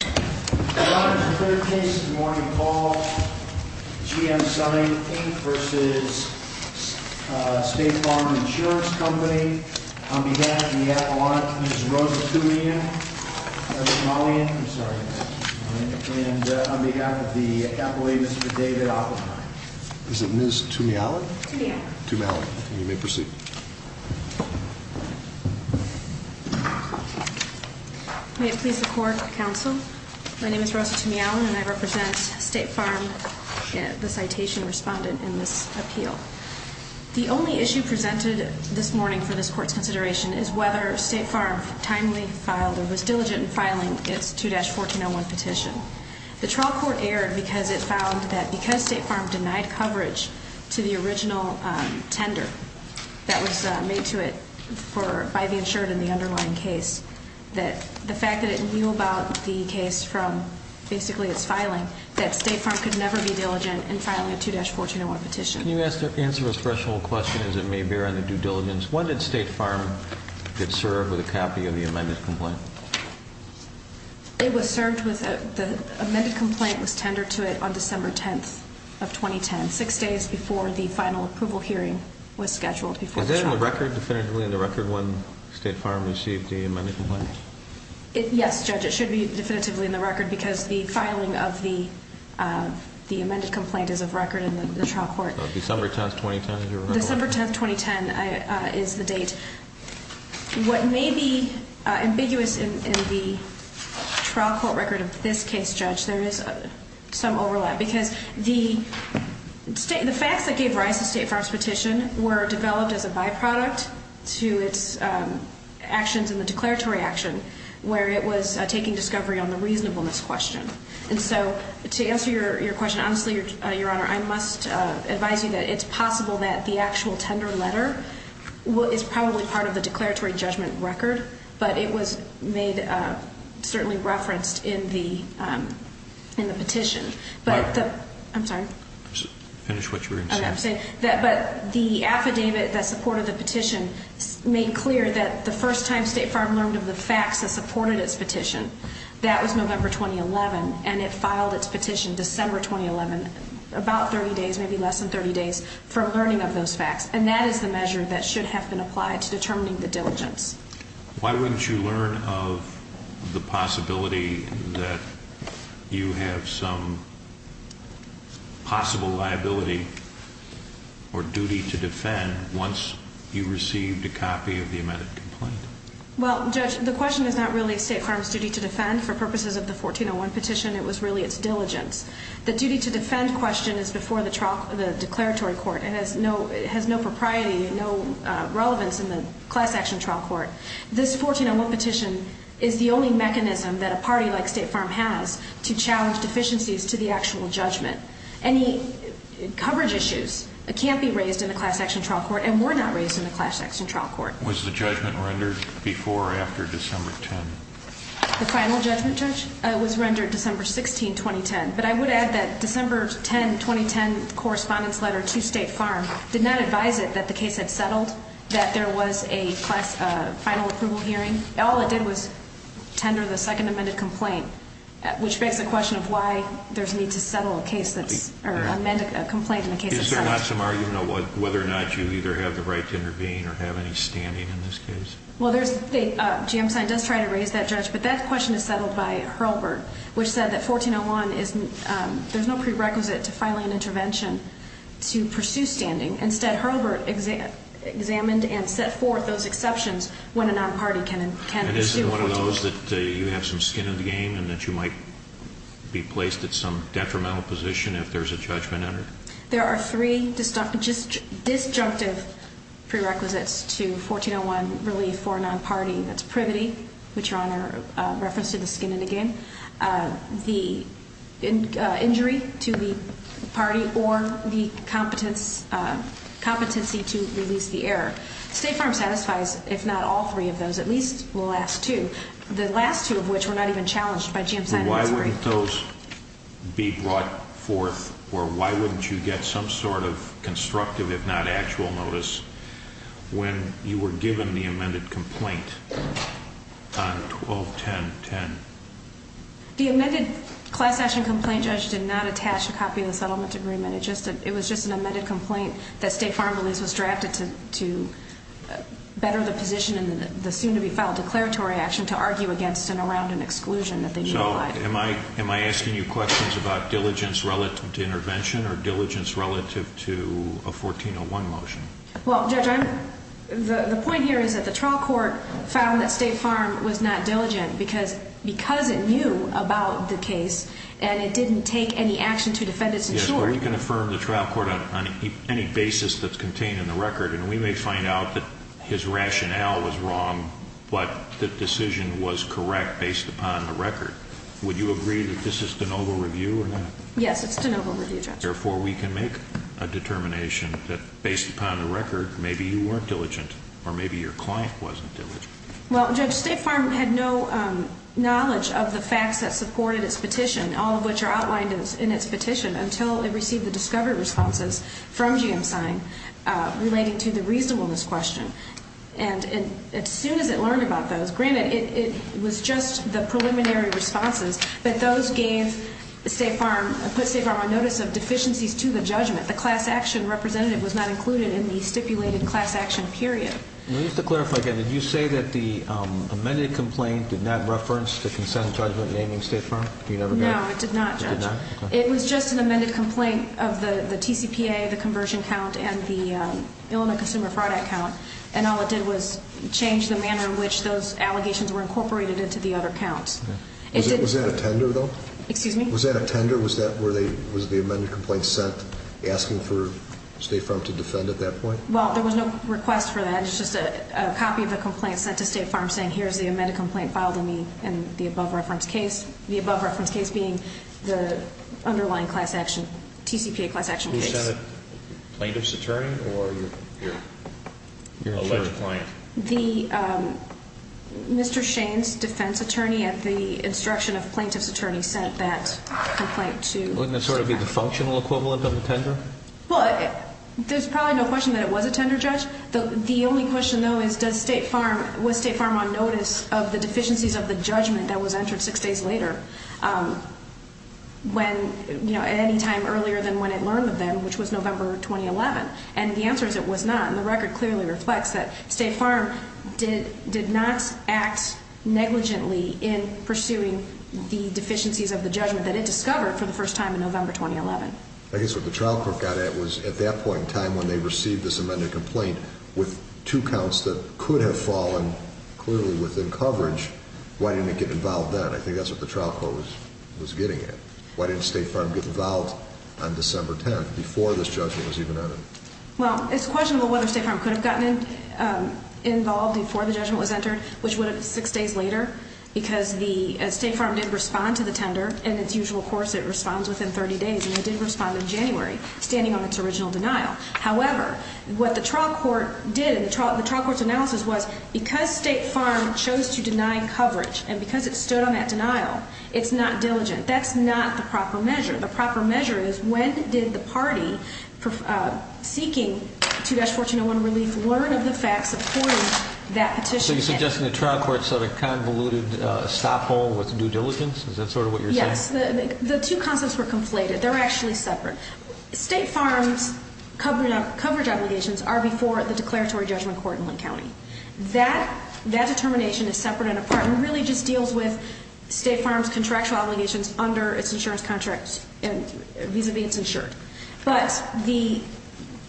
On behalf of the Appellant, Ms. Rosa Tumiali, and on behalf of the Appellate, Mr. David Oppenheim. Is it Ms. Tumiali? Tumiali. Tumiali, you may proceed. May it please the Court, Counsel. My name is Rosa Tumiali, and I represent State Farm, the citation respondent in this appeal. The only issue presented this morning for this Court's consideration is whether State Farm timely filed or was diligent in filing its 2-1401 petition. The trial court erred because it found that because State Farm denied coverage to the original tender that was made to it by the insured in the underlying case, that the fact that it knew about the case from basically its filing, that State Farm could never be diligent in filing a 2-1401 petition. Can you answer a threshold question as it may bear on the due diligence? When did State Farm get served with a copy of the amended complaint? It was served with a, the amended complaint was tendered to it on December 10th of 2010, six days before the final approval hearing was scheduled before the trial. Is it in the record definitively in the record when State Farm received the amended complaint? Yes, Judge, it should be definitively in the record because the filing of the amended complaint is of record in the trial court. December 10th, 2010 is the record? December 10th, 2010 is the date. What may be ambiguous in the trial court record of this case, Judge, there is some overlap because the facts that gave rise to State Farm's petition were developed as a byproduct to its actions in the declaratory action where it was taking discovery on the reasonableness question. And so to answer your question, honestly, Your Honor, I must advise you that it's possible that the actual tender letter is probably part of the declaratory judgment record, but it was made, certainly referenced in the petition. I'm sorry. Finish what you were going to say. But the affidavit that supported the petition made clear that the first time State Farm learned of the facts that supported its petition, that was November 2011, and it filed its petition December 2011, about 30 days, maybe less than 30 days, for learning of those facts, and that is the measure that should have been applied to determining the diligence. Why wouldn't you learn of the possibility that you have some possible liability or duty to defend once you received a copy of the amended complaint? Well, Judge, the question is not really State Farm's duty to defend. For purposes of the 1401 petition, it was really its diligence. The duty to defend question is before the declaratory court. It has no propriety, no relevance in the class action trial court. This 1401 petition is the only mechanism that a party like State Farm has to challenge deficiencies to the actual judgment. Any coverage issues can't be raised in the class action trial court and were not raised in the class action trial court. Was the judgment rendered before or after December 10? The final judgment, Judge, was rendered December 16, 2010, but I would add that December 10, 2010 correspondence letter to State Farm did not advise it that the case had settled, that there was a class final approval hearing. All it did was tender the second amended complaint, which begs the question of why there's need to settle a case that's or amend a complaint in a case that's settled. Is there not some argument of whether or not you either have the right to intervene or have any standing in this case? Well, there's the GM sign does try to raise that, Judge, but that question is settled by Hurlburt, which said that 1401, there's no prerequisite to filing an intervention to pursue standing. Instead, Hurlburt examined and set forth those exceptions when a non-party can pursue a 1401. And isn't one of those that you have some skin in the game and that you might be placed at some detrimental position if there's a judgment entered? There are three disjunctive prerequisites to 1401 relief for a non-party. That's privity, which Your Honor referenced in the skin in the game, the injury to the party, or the competency to release the error. State Farm satisfies, if not all three of those, at least the last two. The last two of which were not even challenged by GM sign. And why wouldn't those be brought forth, or why wouldn't you get some sort of constructive, if not actual notice, when you were given the amended complaint on 121010? The amended class action complaint, Judge, did not attach a copy of the settlement agreement. It was just an amended complaint that State Farm believes was drafted to better the position in the soon-to-be-filed declaratory action to argue against and around an exclusion that they've implied. So am I asking you questions about diligence relative to intervention or diligence relative to a 1401 motion? Well, Judge, the point here is that the trial court found that State Farm was not diligent because it knew about the case and it didn't take any action to defend its insurer. Yes, well, you can affirm the trial court on any basis that's contained in the record, and we may find out that his rationale was wrong, but the decision was correct based upon the record. Would you agree that this is de novo review or not? Yes, it's de novo review, Judge. Therefore, we can make a determination that, based upon the record, maybe you weren't diligent or maybe your client wasn't diligent. Well, Judge, State Farm had no knowledge of the facts that supported its petition, all of which are outlined in its petition, until it received the discovery responses from GMSign relating to the reasonableness question. And as soon as it learned about those, granted, it was just the preliminary responses, but those put State Farm on notice of deficiencies to the judgment. The class action representative was not included in the stipulated class action period. Just to clarify again, did you say that the amended complaint did not reference the consent judgment naming State Farm? No, it did not, Judge. It was just an amended complaint of the TCPA, the conversion count, and the Illinois Consumer Fraud Act count, and all it did was change the manner in which those allegations were incorporated into the other counts. Was that a tender, though? Excuse me? Was that a tender? Was the amended complaint sent asking for State Farm to defend at that point? Well, there was no request for that. It was just a copy of the complaint sent to State Farm saying, here's the amended complaint filed in the above-referenced case, the above-referenced case being the underlying TCPA class action case. Was that a plaintiff's attorney or your alleged client? Mr. Shane's defense attorney, at the instruction of plaintiff's attorney, sent that complaint to State Farm. Wouldn't that sort of be the functional equivalent of a tender? Well, there's probably no question that it was a tender, Judge. The only question, though, is was State Farm on notice of the deficiencies of the judgment that was entered six days later, at any time earlier than when it learned of them, which was November 2011? And the answer is it was not, and the record clearly reflects that State Farm did not act negligently in pursuing the deficiencies of the judgment that it discovered for the first time in November 2011. I guess what the trial court got at was at that point in time when they received this amended complaint with two counts that could have fallen clearly within coverage, why didn't it get involved then? I think that's what the trial court was getting at. Why didn't State Farm get involved on December 10th, before this judgment was even entered? Well, it's questionable whether State Farm could have gotten involved before the judgment was entered, which would have been six days later, because State Farm did respond to the tender in its usual course. It responds within 30 days, and it did respond in January, standing on its original denial. However, what the trial court did in the trial court's analysis was because State Farm chose to deny coverage and because it stood on that denial, it's not diligent. That's not the proper measure. The proper measure is when did the party seeking 2-1401 relief learn of the fact supporting that petition? So you're suggesting the trial court set a convoluted stop hole with due diligence? Is that sort of what you're saying? Yes. The two concepts were conflated. They're actually separate. State Farm's coverage obligations are before the declaratory judgment court in Linn County. That determination is separate and really just deals with State Farm's contractual obligations under its insurance contracts vis-a-vis its insured. But the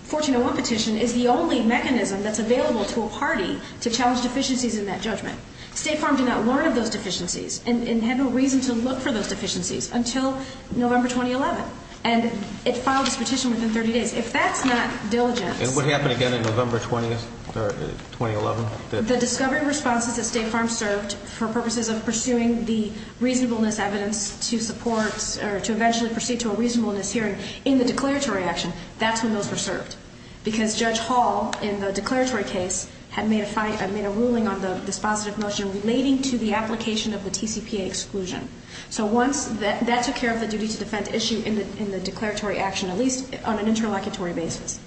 1401 petition is the only mechanism that's available to a party to challenge deficiencies in that judgment. State Farm did not learn of those deficiencies and had no reason to look for those deficiencies until November 2011, and it filed its petition within 30 days. If that's not diligence ---- And what happened again in November 20th or 2011? The discovery responses that State Farm served for purposes of pursuing the reasonableness evidence to support or to eventually proceed to a reasonableness hearing in the declaratory action, that's when those were served because Judge Hall in the declaratory case had made a ruling on the dispositive motion relating to the application of the TCPA exclusion. So once that took care of the duty to defend issue in the declaratory action, at least on an interlocutory basis,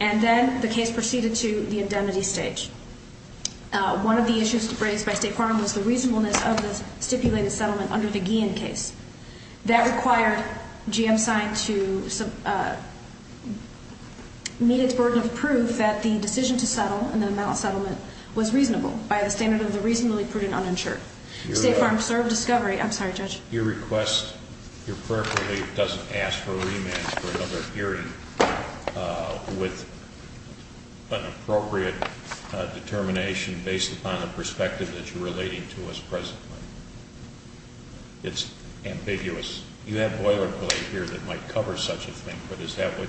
and then the case proceeded to the indemnity stage. One of the issues raised by State Farm was the reasonableness of the stipulated settlement under the Guillen case. That required GM sign to meet its burden of proof that the decision to settle and the amount of settlement was reasonable by the standard of the reasonably prudent uninsured. State Farm served discovery ---- I'm sorry, Judge. Your request, appropriately, doesn't ask for remand for another hearing with an appropriate determination based upon the perspective that you're relating to us presently. It's ambiguous. You have boilerplate here that might cover such a thing, but is that what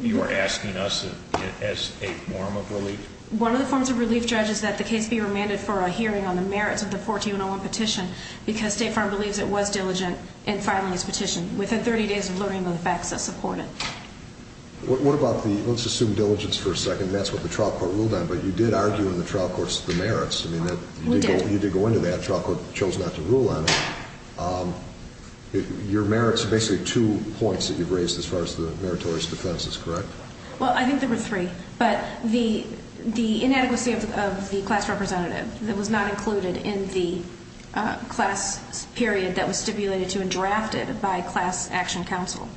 you are asking us as a form of relief? One of the forms of relief, Judge, is that the case be remanded for a hearing on the merits of the 1401 petition because State Farm believes it was diligent in filing its petition within 30 days of learning of the facts that support it. What about the, let's assume diligence for a second, and that's what the trial court ruled on, but you did argue in the trial courts the merits. We did. Well, you did go into that. The trial court chose not to rule on it. Your merits are basically two points that you've raised as far as the meritorious defenses, correct? Well, I think there were three, but the inadequacy of the class representative that was not included in the class period that was stipulated to and drafted by class action counsel.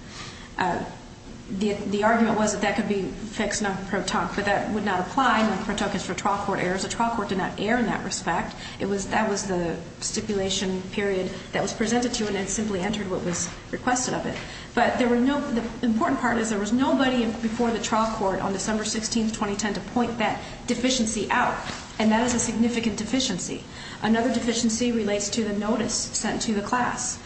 The argument was that that could be fixed under pro tonque, but that would not apply. Pro tonque is for trial court errors. The trial court did not err in that respect. That was the stipulation period that was presented to and it simply entered what was requested of it. But the important part is there was nobody before the trial court on December 16, 2010, to point that deficiency out, and that is a significant deficiency. Another deficiency relates to the notice sent to the class.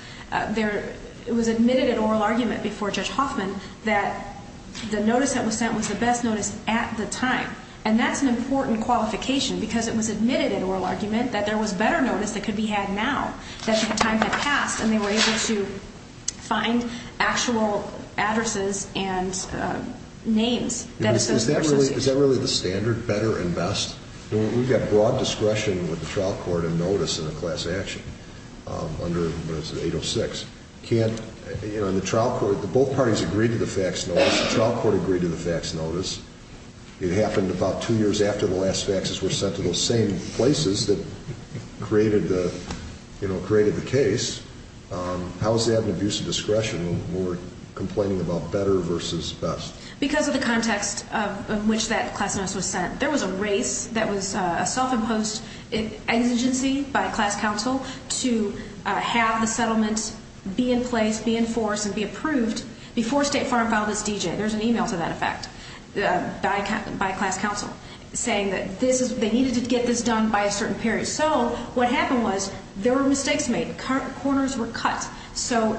It was admitted in oral argument before Judge Hoffman that the notice that was sent was the best notice at the time, and that's an important qualification because it was admitted in oral argument that there was better notice that could be had now, that the time had passed and they were able to find actual addresses and names. Is that really the standard, better and best? We've got broad discretion with the trial court and notice in a class action under 806. Both parties agreed to the fax notice. The trial court agreed to the fax notice. It happened about two years after the last faxes were sent to those same places that created the case. How is that an abuse of discretion when we're complaining about better versus best? Because of the context in which that class notice was sent, there was a race that was a self-imposed exigency by class counsel to have the settlement be in place, be in force, and be approved before State Farm filed its D.J. There's an e-mail to that effect by class counsel saying that they needed to get this done by a certain period. So what happened was there were mistakes made. Corners were cut. So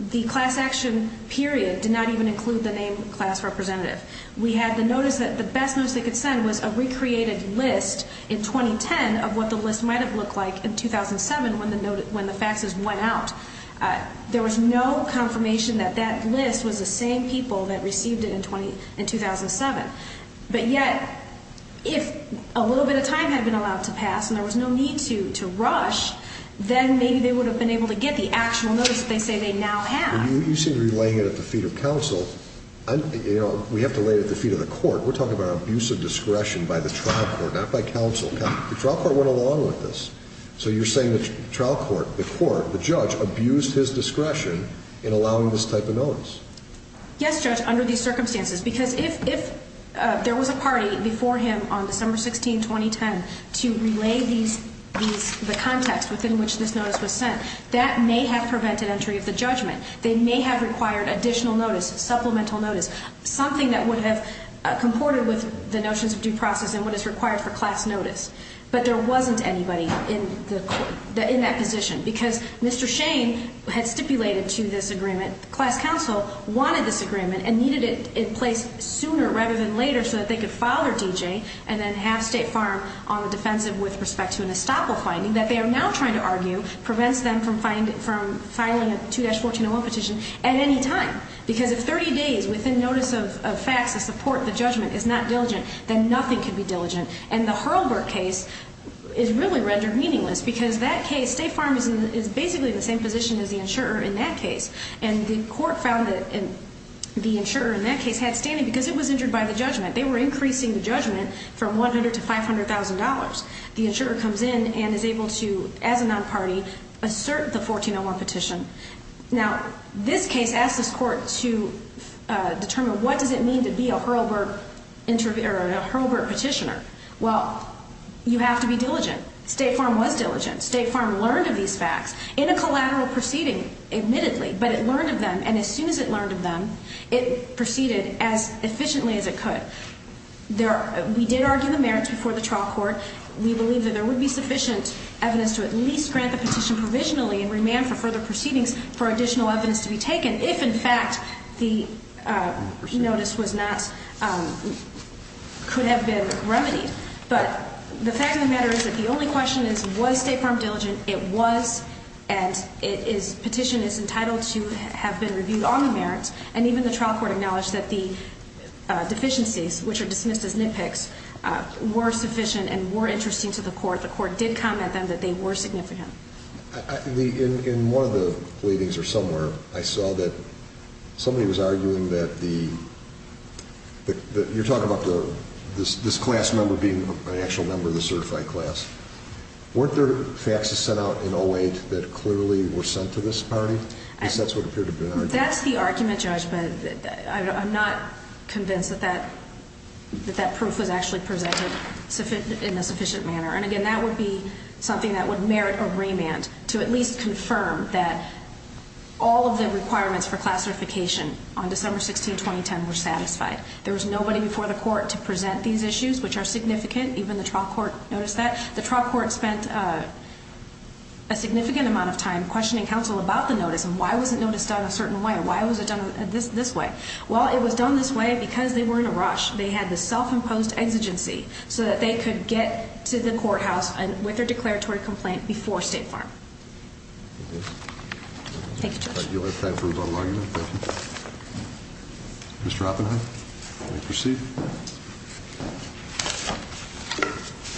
the class action period did not even include the name class representative. We had the notice that the best notice they could send was a recreated list in 2010 of what the list might have looked like in 2007 when the faxes went out. There was no confirmation that that list was the same people that received it in 2007. But yet, if a little bit of time had been allowed to pass and there was no need to rush, then maybe they would have been able to get the actual notice that they say they now have. You seem to be laying it at the feet of counsel. We have to lay it at the feet of the court. We're talking about abuse of discretion by the trial court, not by counsel. The trial court went along with this. So you're saying the trial court, the court, the judge abused his discretion in allowing this type of notice. Yes, Judge, under these circumstances. Because if there was a party before him on December 16, 2010, to relay the context within which this notice was sent, that may have prevented entry of the judgment. They may have required additional notice, supplemental notice, something that would have comported with the notions of due process and what is required for class notice. But there wasn't anybody in that position. Because Mr. Shane had stipulated to this agreement, class counsel wanted this agreement and needed it in place sooner rather than later so that they could file their D.J. and then have State Farm on the defensive with respect to an estoppel finding that they are now trying to argue prevents them from filing a 2-1401 petition at any time. Because if 30 days within notice of facts to support the judgment is not diligent, then nothing can be diligent. And the Hurlburt case is really rendered meaningless because that case, State Farm is basically in the same position as the insurer in that case. And the court found that the insurer in that case had standing because it was injured by the judgment. They were increasing the judgment from $100,000 to $500,000. The insurer comes in and is able to, as a non-party, assert the 2-1401 petition. Now, this case asks this court to determine what does it mean to be a Hurlburt petitioner. Well, you have to be diligent. State Farm was diligent. State Farm learned of these facts in a collateral proceeding, admittedly. But it learned of them. And as soon as it learned of them, it proceeded as efficiently as it could. We did argue the merits before the trial court. We believe that there would be sufficient evidence to at least grant the petition provisionally and remand for further proceedings for additional evidence to be taken if, in fact, the notice could have been remedied. But the fact of the matter is that the only question is, was State Farm diligent? It was. And the petition is entitled to have been reviewed on the merits. And even the trial court acknowledged that the deficiencies, which are dismissed as nitpicks, were sufficient and were interesting to the court. The court did comment then that they were significant. In one of the pleadings or somewhere, I saw that somebody was arguing that the – you're talking about this class member being an actual member of the certified class. Weren't there facts sent out in 08 that clearly were sent to this party? I guess that's what appeared to be an argument. I guess that's the argument, Judge, but I'm not convinced that that proof was actually presented in a sufficient manner. And, again, that would be something that would merit a remand to at least confirm that all of the requirements for class certification on December 16, 2010, were satisfied. There was nobody before the court to present these issues, which are significant. Even the trial court noticed that. The trial court spent a significant amount of time questioning counsel about the notice and why was it noticed on a certain way or why was it done this way. Well, it was done this way because they were in a rush. They had the self-imposed exigency so that they could get to the courthouse with their declaratory complaint before State Farm. Thank you, Judge. Mr. Oppenheim, you may proceed.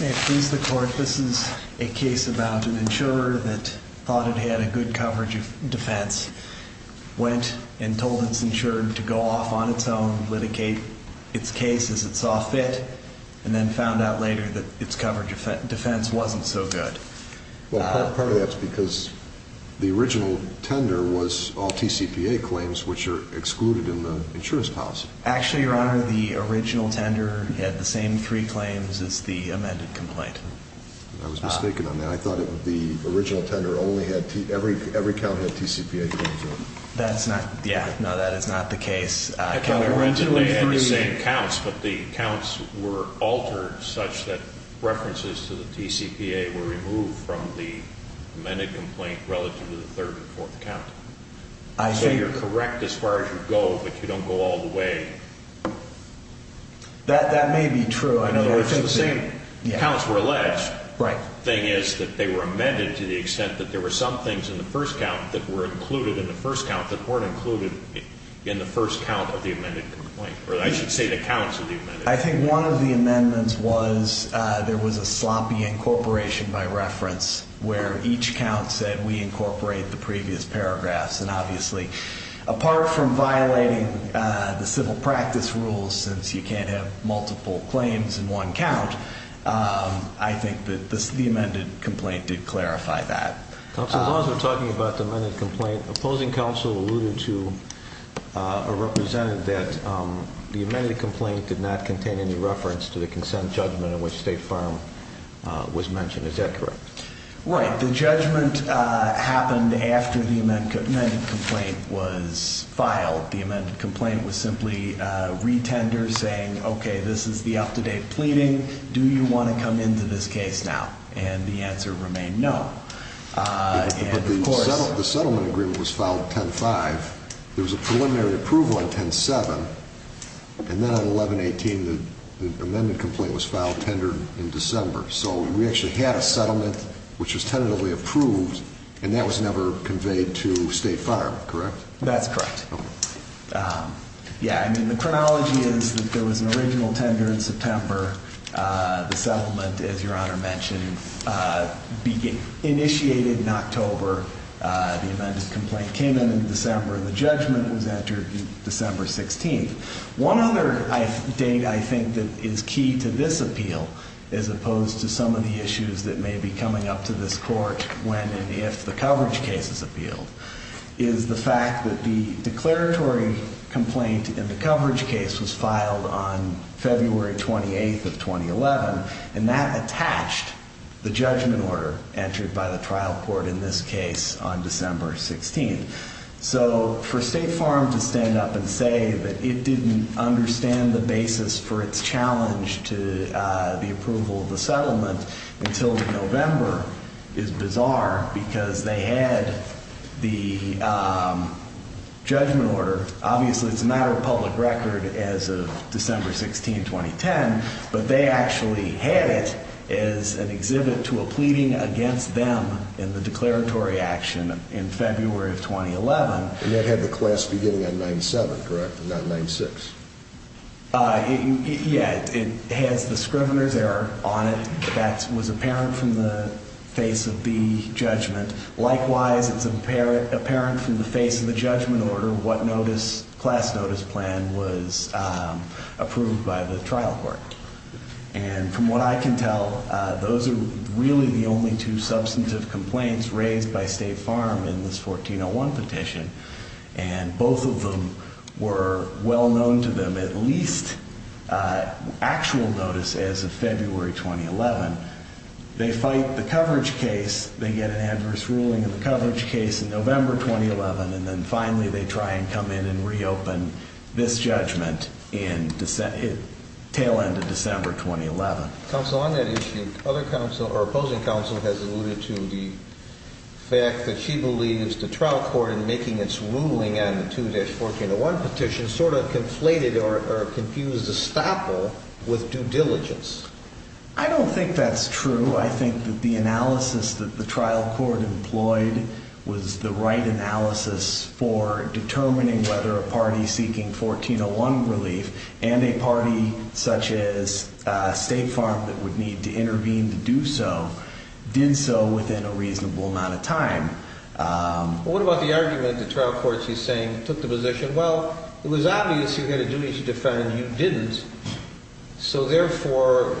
May it please the court, this is a case about an insurer that thought it had a good coverage of defense, went and told its insurer to go off on its own, litigate its case as it saw fit, and then found out later that its coverage of defense wasn't so good. Well, part of that's because the original tender was all TCPA claims, which are excluded in the insurance policy. Actually, Your Honor, the original tender had the same three claims as the amended complaint. I was mistaken on that. I thought it would be the original tender only had, every count had TCPA claims on it. That's not, yeah, no, that is not the case. The original tender had the same counts, but the counts were altered such that references to the TCPA were removed from the amended complaint relative to the third and fourth count. So you're correct as far as you go, but you don't go all the way. That may be true. I know there's the same, the counts were alleged. The thing is that they were amended to the extent that there were some things in the first count that were included in the first count that weren't included in the first count of the amended complaint, or I should say the counts of the amended complaint. I think one of the amendments was there was a sloppy incorporation by reference where each count said we incorporate the previous paragraphs. And obviously, apart from violating the civil practice rules, since you can't have multiple claims in one count, I think that the amended complaint did clarify that. Counsel, as long as we're talking about the amended complaint, opposing counsel alluded to or represented that the amended complaint did not contain any reference to the consent judgment in which State Farm was mentioned. Is that correct? Right. The judgment happened after the amended complaint was filed. The amended complaint was simply retender saying, okay, this is the up-to-date pleading. Do you want to come into this case now? And the answer remained no. But the settlement agreement was filed 10-5. There was a preliminary approval on 10-7. And then on 11-18, the amended complaint was filed, tendered in December. So we actually had a settlement which was tentatively approved, and that was never conveyed to State Farm, correct? That's correct. Okay. Yeah, I mean, the chronology is that there was an original tender in September. The settlement, as Your Honor mentioned, initiated in October. The amended complaint came in in December, and the judgment was entered December 16th. One other date I think that is key to this appeal, as opposed to some of the issues that may be coming up to this court when and if the coverage case is appealed, is the fact that the declaratory complaint in the coverage case was filed on February 28th of 2011, and that attached the judgment order entered by the trial court in this case on December 16th. So for State Farm to stand up and say that it didn't understand the basis for its challenge to the approval of the settlement until November is bizarre, because they had the judgment order. Obviously, it's a matter of public record as of December 16th, 2010, but they actually had it as an exhibit to a pleading against them in the declaratory action in February of 2011. And that had the class beginning on 97, correct, and not 96? Yeah, it has the Scrivener's Error on it. That was apparent from the face of the judgment. Likewise, it's apparent from the face of the judgment order what class notice plan was approved by the trial court. And from what I can tell, those are really the only two substantive complaints raised by State Farm in this 1401 petition, and both of them were well known to them at least actual notice as of February 2011. They fight the coverage case. They get an adverse ruling in the coverage case in November 2011, and then finally they try and come in and reopen this judgment in the tail end of December 2011. Counsel, on that issue, other counsel or opposing counsel has alluded to the fact that she believes the trial court in making its ruling on the 2-1401 petition sort of conflated or confused the stopper with due diligence. I don't think that's true. I think that the analysis that the trial court employed was the right analysis for determining whether a party seeking 1401 relief and a party such as State Farm that would need to intervene to do so did so within a reasonable amount of time. What about the argument that the trial court is saying took the position, well, it was obvious you had a duty to defend and you didn't, so therefore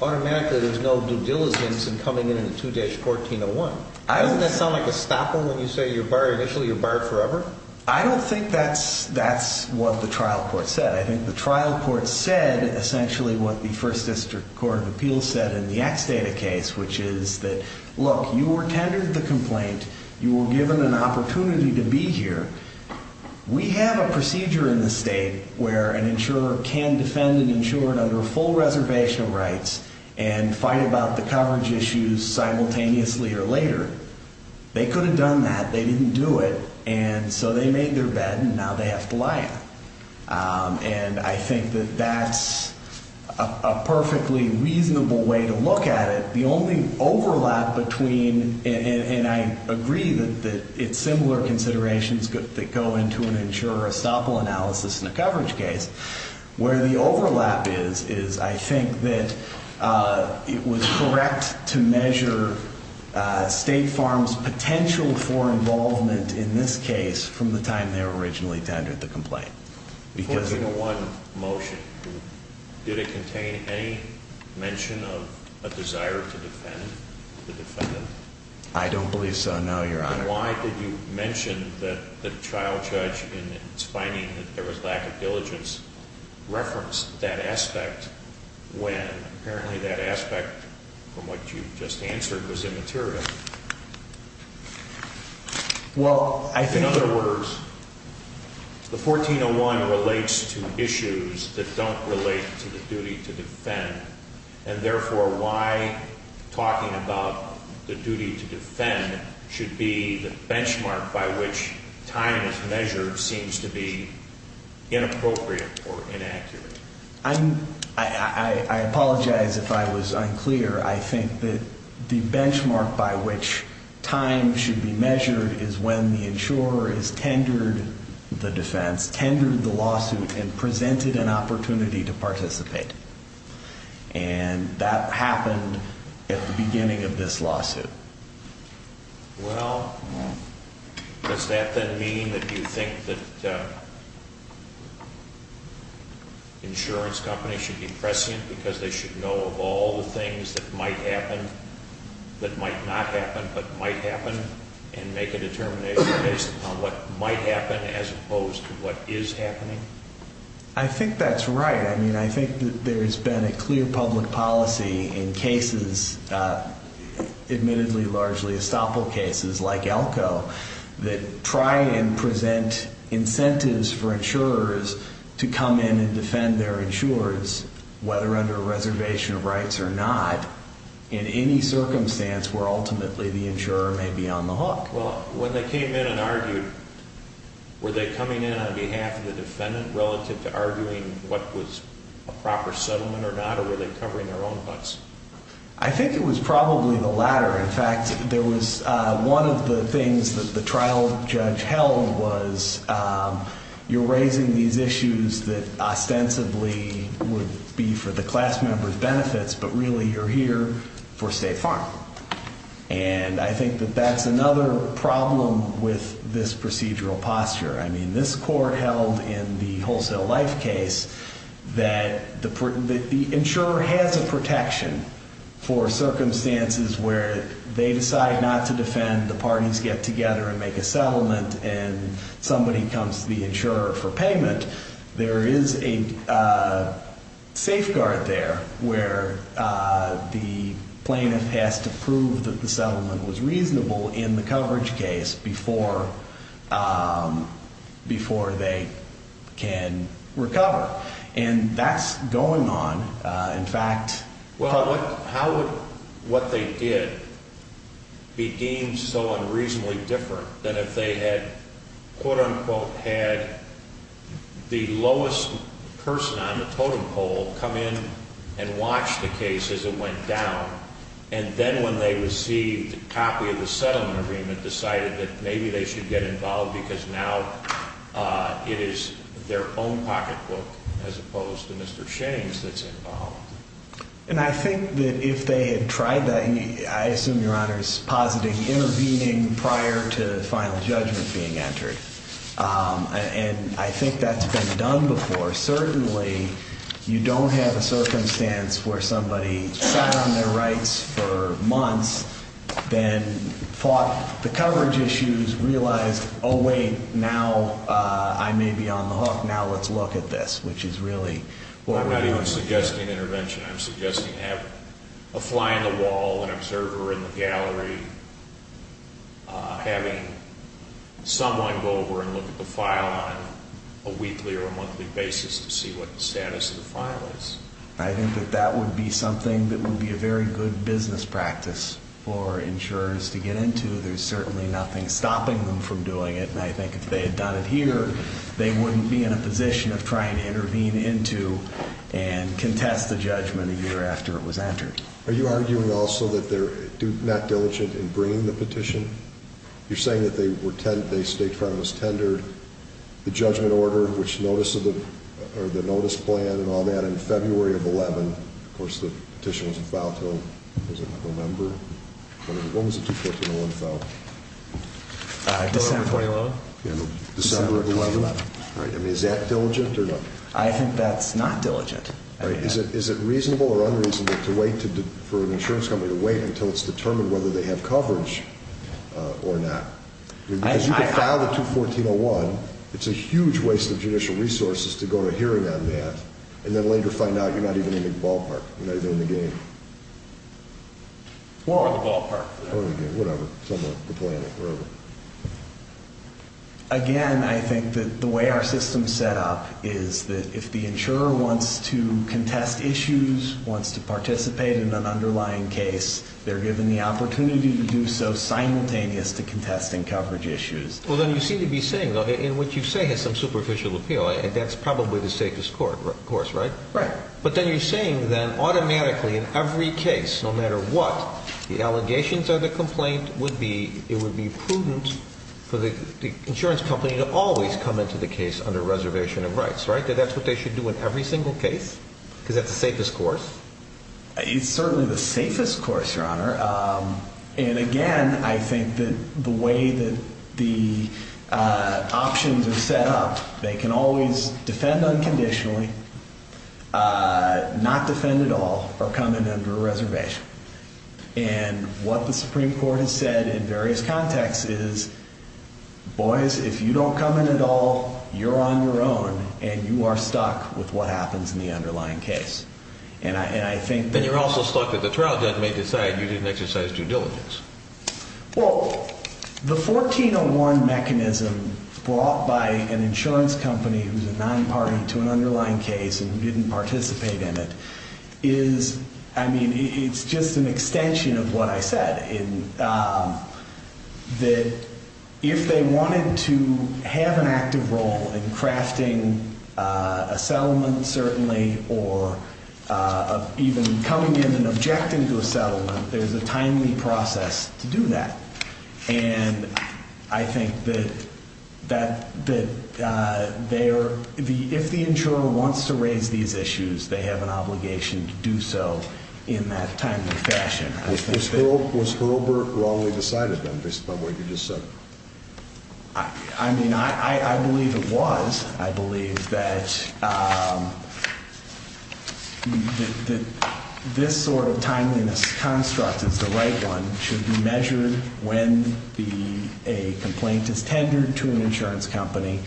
automatically there's no due diligence in coming in in the 2-1401. Doesn't that sound like a stopper when you say initially you're barred forever? I don't think that's what the trial court said. I think the trial court said essentially what the First District Court of Appeals said in the X data case, which is that, look, you were tendered the complaint. You were given an opportunity to be here. We have a procedure in the state where an insurer can defend an insurer under full reservation rights and fight about the coverage issues simultaneously or later. They could have done that. They didn't do it, and so they made their bed, and now they have to lie on it. And I think that that's a perfectly reasonable way to look at it. The only overlap between, and I agree that it's similar considerations that go into an insurer-estoppel analysis in a coverage case, where the overlap is is I think that it was correct to measure State Farm's potential for involvement in this case from the time they were originally tendered the complaint. The 1401 motion, did it contain any mention of a desire to defend the defendant? I don't believe so, no, Your Honor. Then why did you mention that the trial judge in its finding that there was lack of diligence referenced that aspect when apparently that aspect from what you just answered was immaterial? Well, I think... In other words, the 1401 relates to issues that don't relate to the duty to defend, and therefore why talking about the duty to defend should be the benchmark by which time is measured seems to be inappropriate or inaccurate? I apologize if I was unclear. I think that the benchmark by which time should be measured is when the insurer has tendered the defense, tendered the lawsuit, and presented an opportunity to participate. And that happened at the beginning of this lawsuit. Well, does that then mean that you think that insurance companies should be prescient because they should know of all the things that might happen, that might not happen but might happen, and make a determination based upon what might happen as opposed to what is happening? I think that's right. I mean, I think that there has been a clear public policy in cases, admittedly largely estoppel cases like Elko, that try and present incentives for insurers to come in and defend their insurers, whether under a reservation of rights or not, in any circumstance where ultimately the insurer may be on the hook. Well, when they came in and argued, were they coming in on behalf of the defendant relative to arguing what was a proper settlement or not, or were they covering their own butts? I think it was probably the latter. In fact, there was one of the things that the trial judge held was, you're raising these issues that ostensibly would be for the class member's benefits, but really you're here for State Farm. And I think that that's another problem with this procedural posture. I mean, this court held in the Wholesale Life case that the insurer has a protection for circumstances where they decide not to defend, the parties get together and make a settlement, and somebody comes to the insurer for payment. There is a safeguard there where the plaintiff has to prove that the settlement was reasonable in the coverage case before they can recover. And that's going on, in fact. Well, how would what they did be deemed so unreasonably different than if they had, quote, unquote, had the lowest person on the totem pole come in and watch the case as it went down, and then when they received a copy of the settlement agreement decided that maybe they should get involved because now it is their own pocketbook as opposed to Mr. Shane's that's involved? And I think that if they had tried that, and I assume Your Honor is positing intervening prior to final judgment being entered, and I think that's been done before. Certainly you don't have a circumstance where somebody sat on their rights for months, then fought the coverage issues, realized, oh, wait, now I may be on the hook. Now let's look at this, which is really what we're doing. I'm suggesting intervention. I'm suggesting having a fly on the wall, an observer in the gallery, having someone go over and look at the file on a weekly or a monthly basis to see what the status of the file is. I think that that would be something that would be a very good business practice for insurers to get into. There's certainly nothing stopping them from doing it, and I think if they had done it here, they wouldn't be in a position of trying to intervene into and contest the judgment a year after it was entered. Are you arguing also that they're not diligent in bringing the petition? You're saying that they were tendered, the judgment order, which notice of the notice plan and all that in February of 2011. Of course, the petition was a file until, what was it, November? When was it 2-14-01 filed? December of 2011. December of 2011. Is that diligent or not? I think that's not diligent. Is it reasonable or unreasonable for an insurance company to wait until it's determined whether they have coverage or not? Because you can file the 2-14-01. It's a huge waste of judicial resources to go to a hearing on that and then later find out you're not even in the ballpark, you're not even in the game. Or in the ballpark. Or in the game, whatever, somewhere, the planet, wherever. Again, I think that the way our system is set up is that if the insurer wants to contest issues, wants to participate in an underlying case, they're given the opportunity to do so simultaneous to contesting coverage issues. Well, then you seem to be saying, though, and what you say has some superficial appeal, and that's probably the safest course, right? Right. But then you're saying then automatically in every case, no matter what, the allegations of the complaint would be, it would be prudent for the insurance company to always come into the case under reservation of rights, right? That that's what they should do in every single case? Because that's the safest course? It's certainly the safest course, Your Honor. And again, I think that the way that the options are set up, they can always defend unconditionally, not defend at all, or come in under a reservation. And what the Supreme Court has said in various contexts is, boys, if you don't come in at all, you're on your own, and you are stuck with what happens in the underlying case. And I think that... Then you're also stuck that the trial judge may decide you didn't exercise due diligence. Well, the 1401 mechanism brought by an insurance company who's a non-party to an underlying case and didn't participate in it is, I mean, it's just an extension of what I said, in that if they wanted to have an active role in crafting a settlement, certainly, or even coming in and objecting to a settlement, there's a timely process to do that. And I think that if the insurer wants to raise these issues, they have an obligation to do so in that timely fashion. Was Herbert wrongly decided then, based upon what you just said? I mean, I believe it was. I believe that this sort of timeliness construct is the right one. It should be measured when a complaint is tendered to an insurance company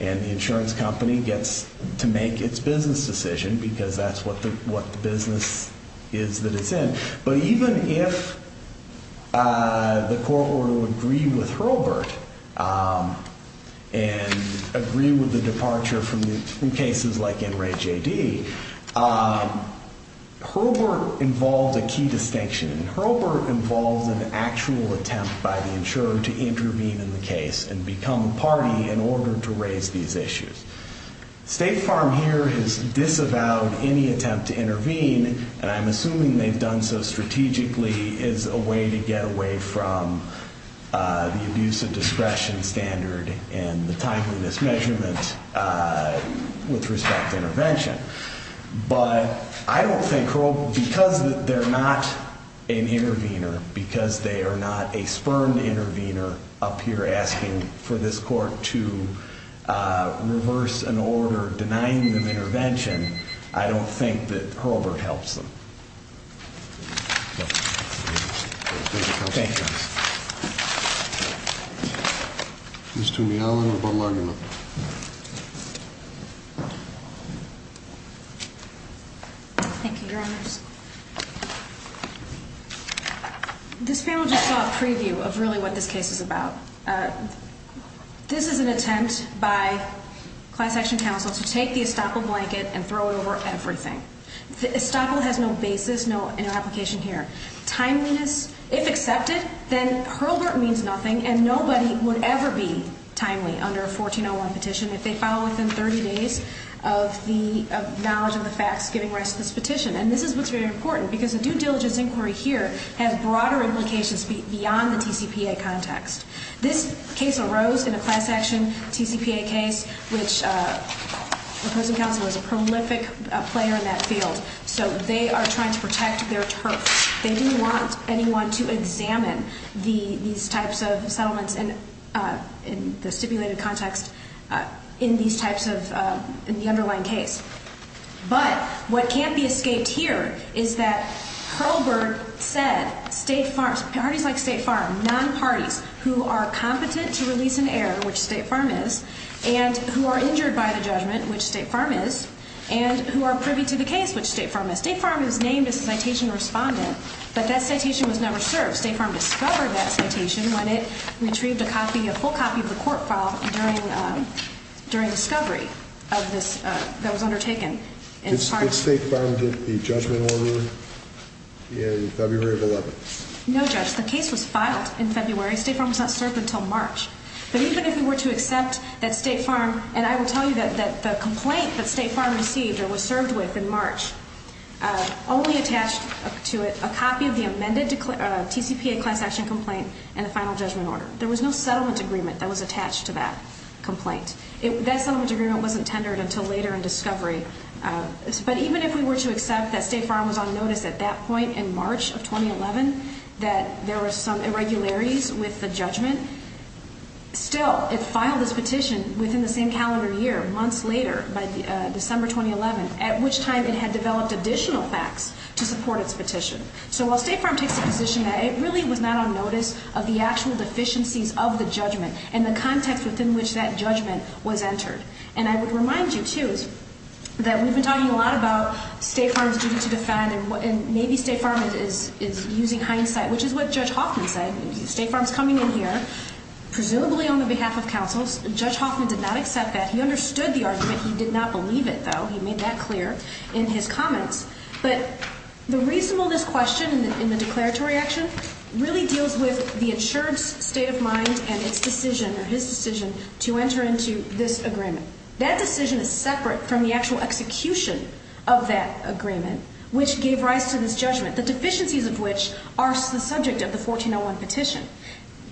and the insurance company gets to make its business decision, because that's what the business is that it's in. But even if the court were to agree with Herbert and agree with the departure from cases like NRAJD, Herbert involved a key distinction. Herbert involved an actual attempt by the insurer to intervene in the case and become a party in order to raise these issues. State Farm here has disavowed any attempt to intervene, and I'm assuming they've done so strategically as a way to get away from the abuse of discretion standard and the timeliness measurement with respect to intervention. But I don't think Herbert, because they're not an intervener, because they are not a spurned intervener up here asking for this court to reverse an order denying them intervention, I don't think that Herbert helps them. Thank you, Your Honor. Ms. Toomey-Allen, rebuttal argument. Thank you, Your Honors. This panel just saw a preview of really what this case is about. This is an attempt by class action counsel to take the estoppel blanket and throw it over everything. Estoppel has no basis, no application here. Timeliness, if accepted, then Herbert means nothing, and nobody would ever be timely under a 1401 petition if they follow within 30 days of the knowledge of the facts giving rise to this petition. And this is what's very important, because a due diligence inquiry here has broader implications beyond the TCPA context. This case arose in a class action TCPA case, which the opposing counsel was a prolific player in that field. So they are trying to protect their turf. They didn't want anyone to examine these types of settlements in the stipulated context in the underlying case. But what can't be escaped here is that Herbert said parties like State Farm, non-parties, who are competent to release an heir, which State Farm is, and who are injured by the judgment, which State Farm is, and who are privy to the case, which State Farm is. State Farm is named as a citation respondent, but that citation was never served. State Farm discovered that citation when it retrieved a full copy of the court file during discovery that was undertaken. Did State Farm get the judgment order in February of 2011? No, Judge, the case was filed in February. State Farm was not served until March. But even if we were to accept that State Farm, and I will tell you that the complaint that State Farm received or was served with in March, only attached to it a copy of the amended TCPA class action complaint and the final judgment order. There was no settlement agreement that was attached to that complaint. That settlement agreement wasn't tendered until later in discovery. But even if we were to accept that State Farm was on notice at that point in March of 2011, still, it filed its petition within the same calendar year, months later, by December 2011, at which time it had developed additional facts to support its petition. So while State Farm takes the position that it really was not on notice of the actual deficiencies of the judgment and the context within which that judgment was entered. And I would remind you, too, that we've been talking a lot about State Farm's duty to defend, and maybe State Farm is using hindsight, which is what Judge Hopkins said. State Farm's coming in here, presumably on the behalf of counsels. Judge Hoffman did not accept that. He understood the argument. He did not believe it, though. He made that clear in his comments. But the reasonableness question in the declaratory action really deals with the insured's state of mind and its decision, or his decision, to enter into this agreement. That decision is separate from the actual execution of that agreement, which gave rise to this judgment, the deficiencies of which are the subject of the 1401 petition.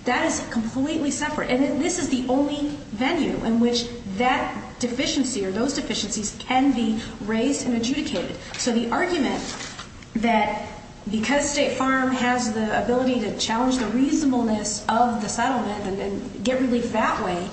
That is completely separate. And this is the only venue in which that deficiency or those deficiencies can be raised and adjudicated. So the argument that because State Farm has the ability to challenge the reasonableness of the settlement and get relief that way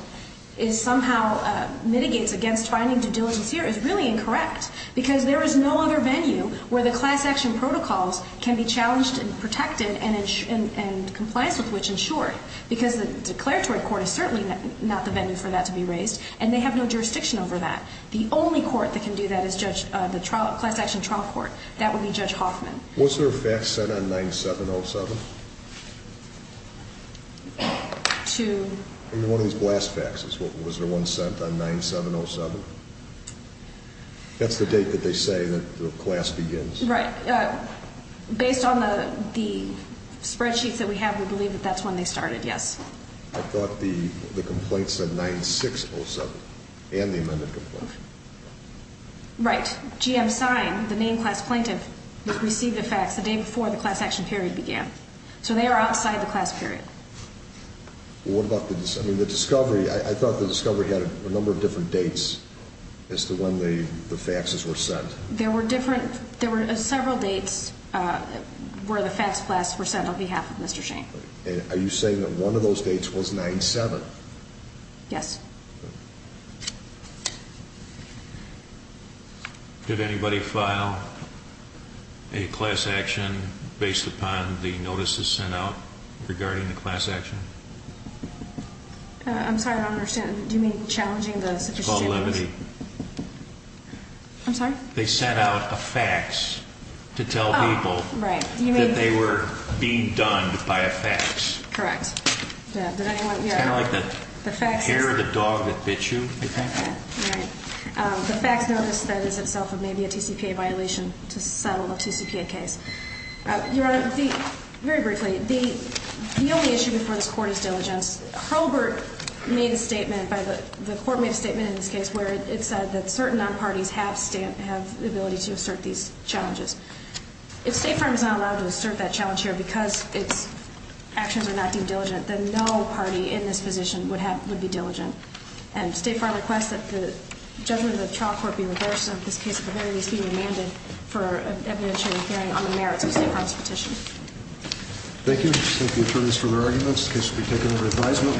somehow mitigates against finding due diligence here is really incorrect, because there is no other venue where the class action protocols can be challenged and protected and compliance with which insured, because the declaratory court is certainly not the venue for that to be raised, and they have no jurisdiction over that. The only court that can do that is the class action trial court. That would be Judge Hoffman. Was there a fax sent on 9707? One of these blast faxes, was there one sent on 9707? That's the date that they say that the class begins. Right. Based on the spreadsheets that we have, we believe that that's when they started, yes. I thought the complaint said 9607 and the amended complaint. Right. GM sign, the main class plaintiff, received a fax the day before the class action period began. So they are outside the class period. What about the discovery? I thought the discovery had a number of different dates as to when the faxes were sent. There were several dates where the fax blasts were sent on behalf of Mr. Shane. Are you saying that one of those dates was 9707? Yes. Did anybody file a class action based upon the notices sent out regarding the class action? I'm sorry, I don't understand. Do you mean challenging the sufficiency of notice? The validity. I'm sorry? They sent out a fax to tell people that they were being done by a fax. Correct. It's kind of like the hair of the dog that bit you, I think. Right. The fax notice then is itself maybe a TCPA violation to settle a TCPA case. Your Honor, very briefly, the only issue before this Court is diligence. Herbert made a statement, the Court made a statement in this case, where it said that certain non-parties have the ability to assert these challenges. If State Farm is not allowed to assert that challenge here because its actions are not deemed diligent, then no party in this position would be diligent. And State Farm requests that the judgment of the trial court be reversed and that this case at the very least be remanded for evidentiary hearing on the merits of State Farm's petition. Thank you. Thank the attorneys for their arguments. The case will be taken under advisement.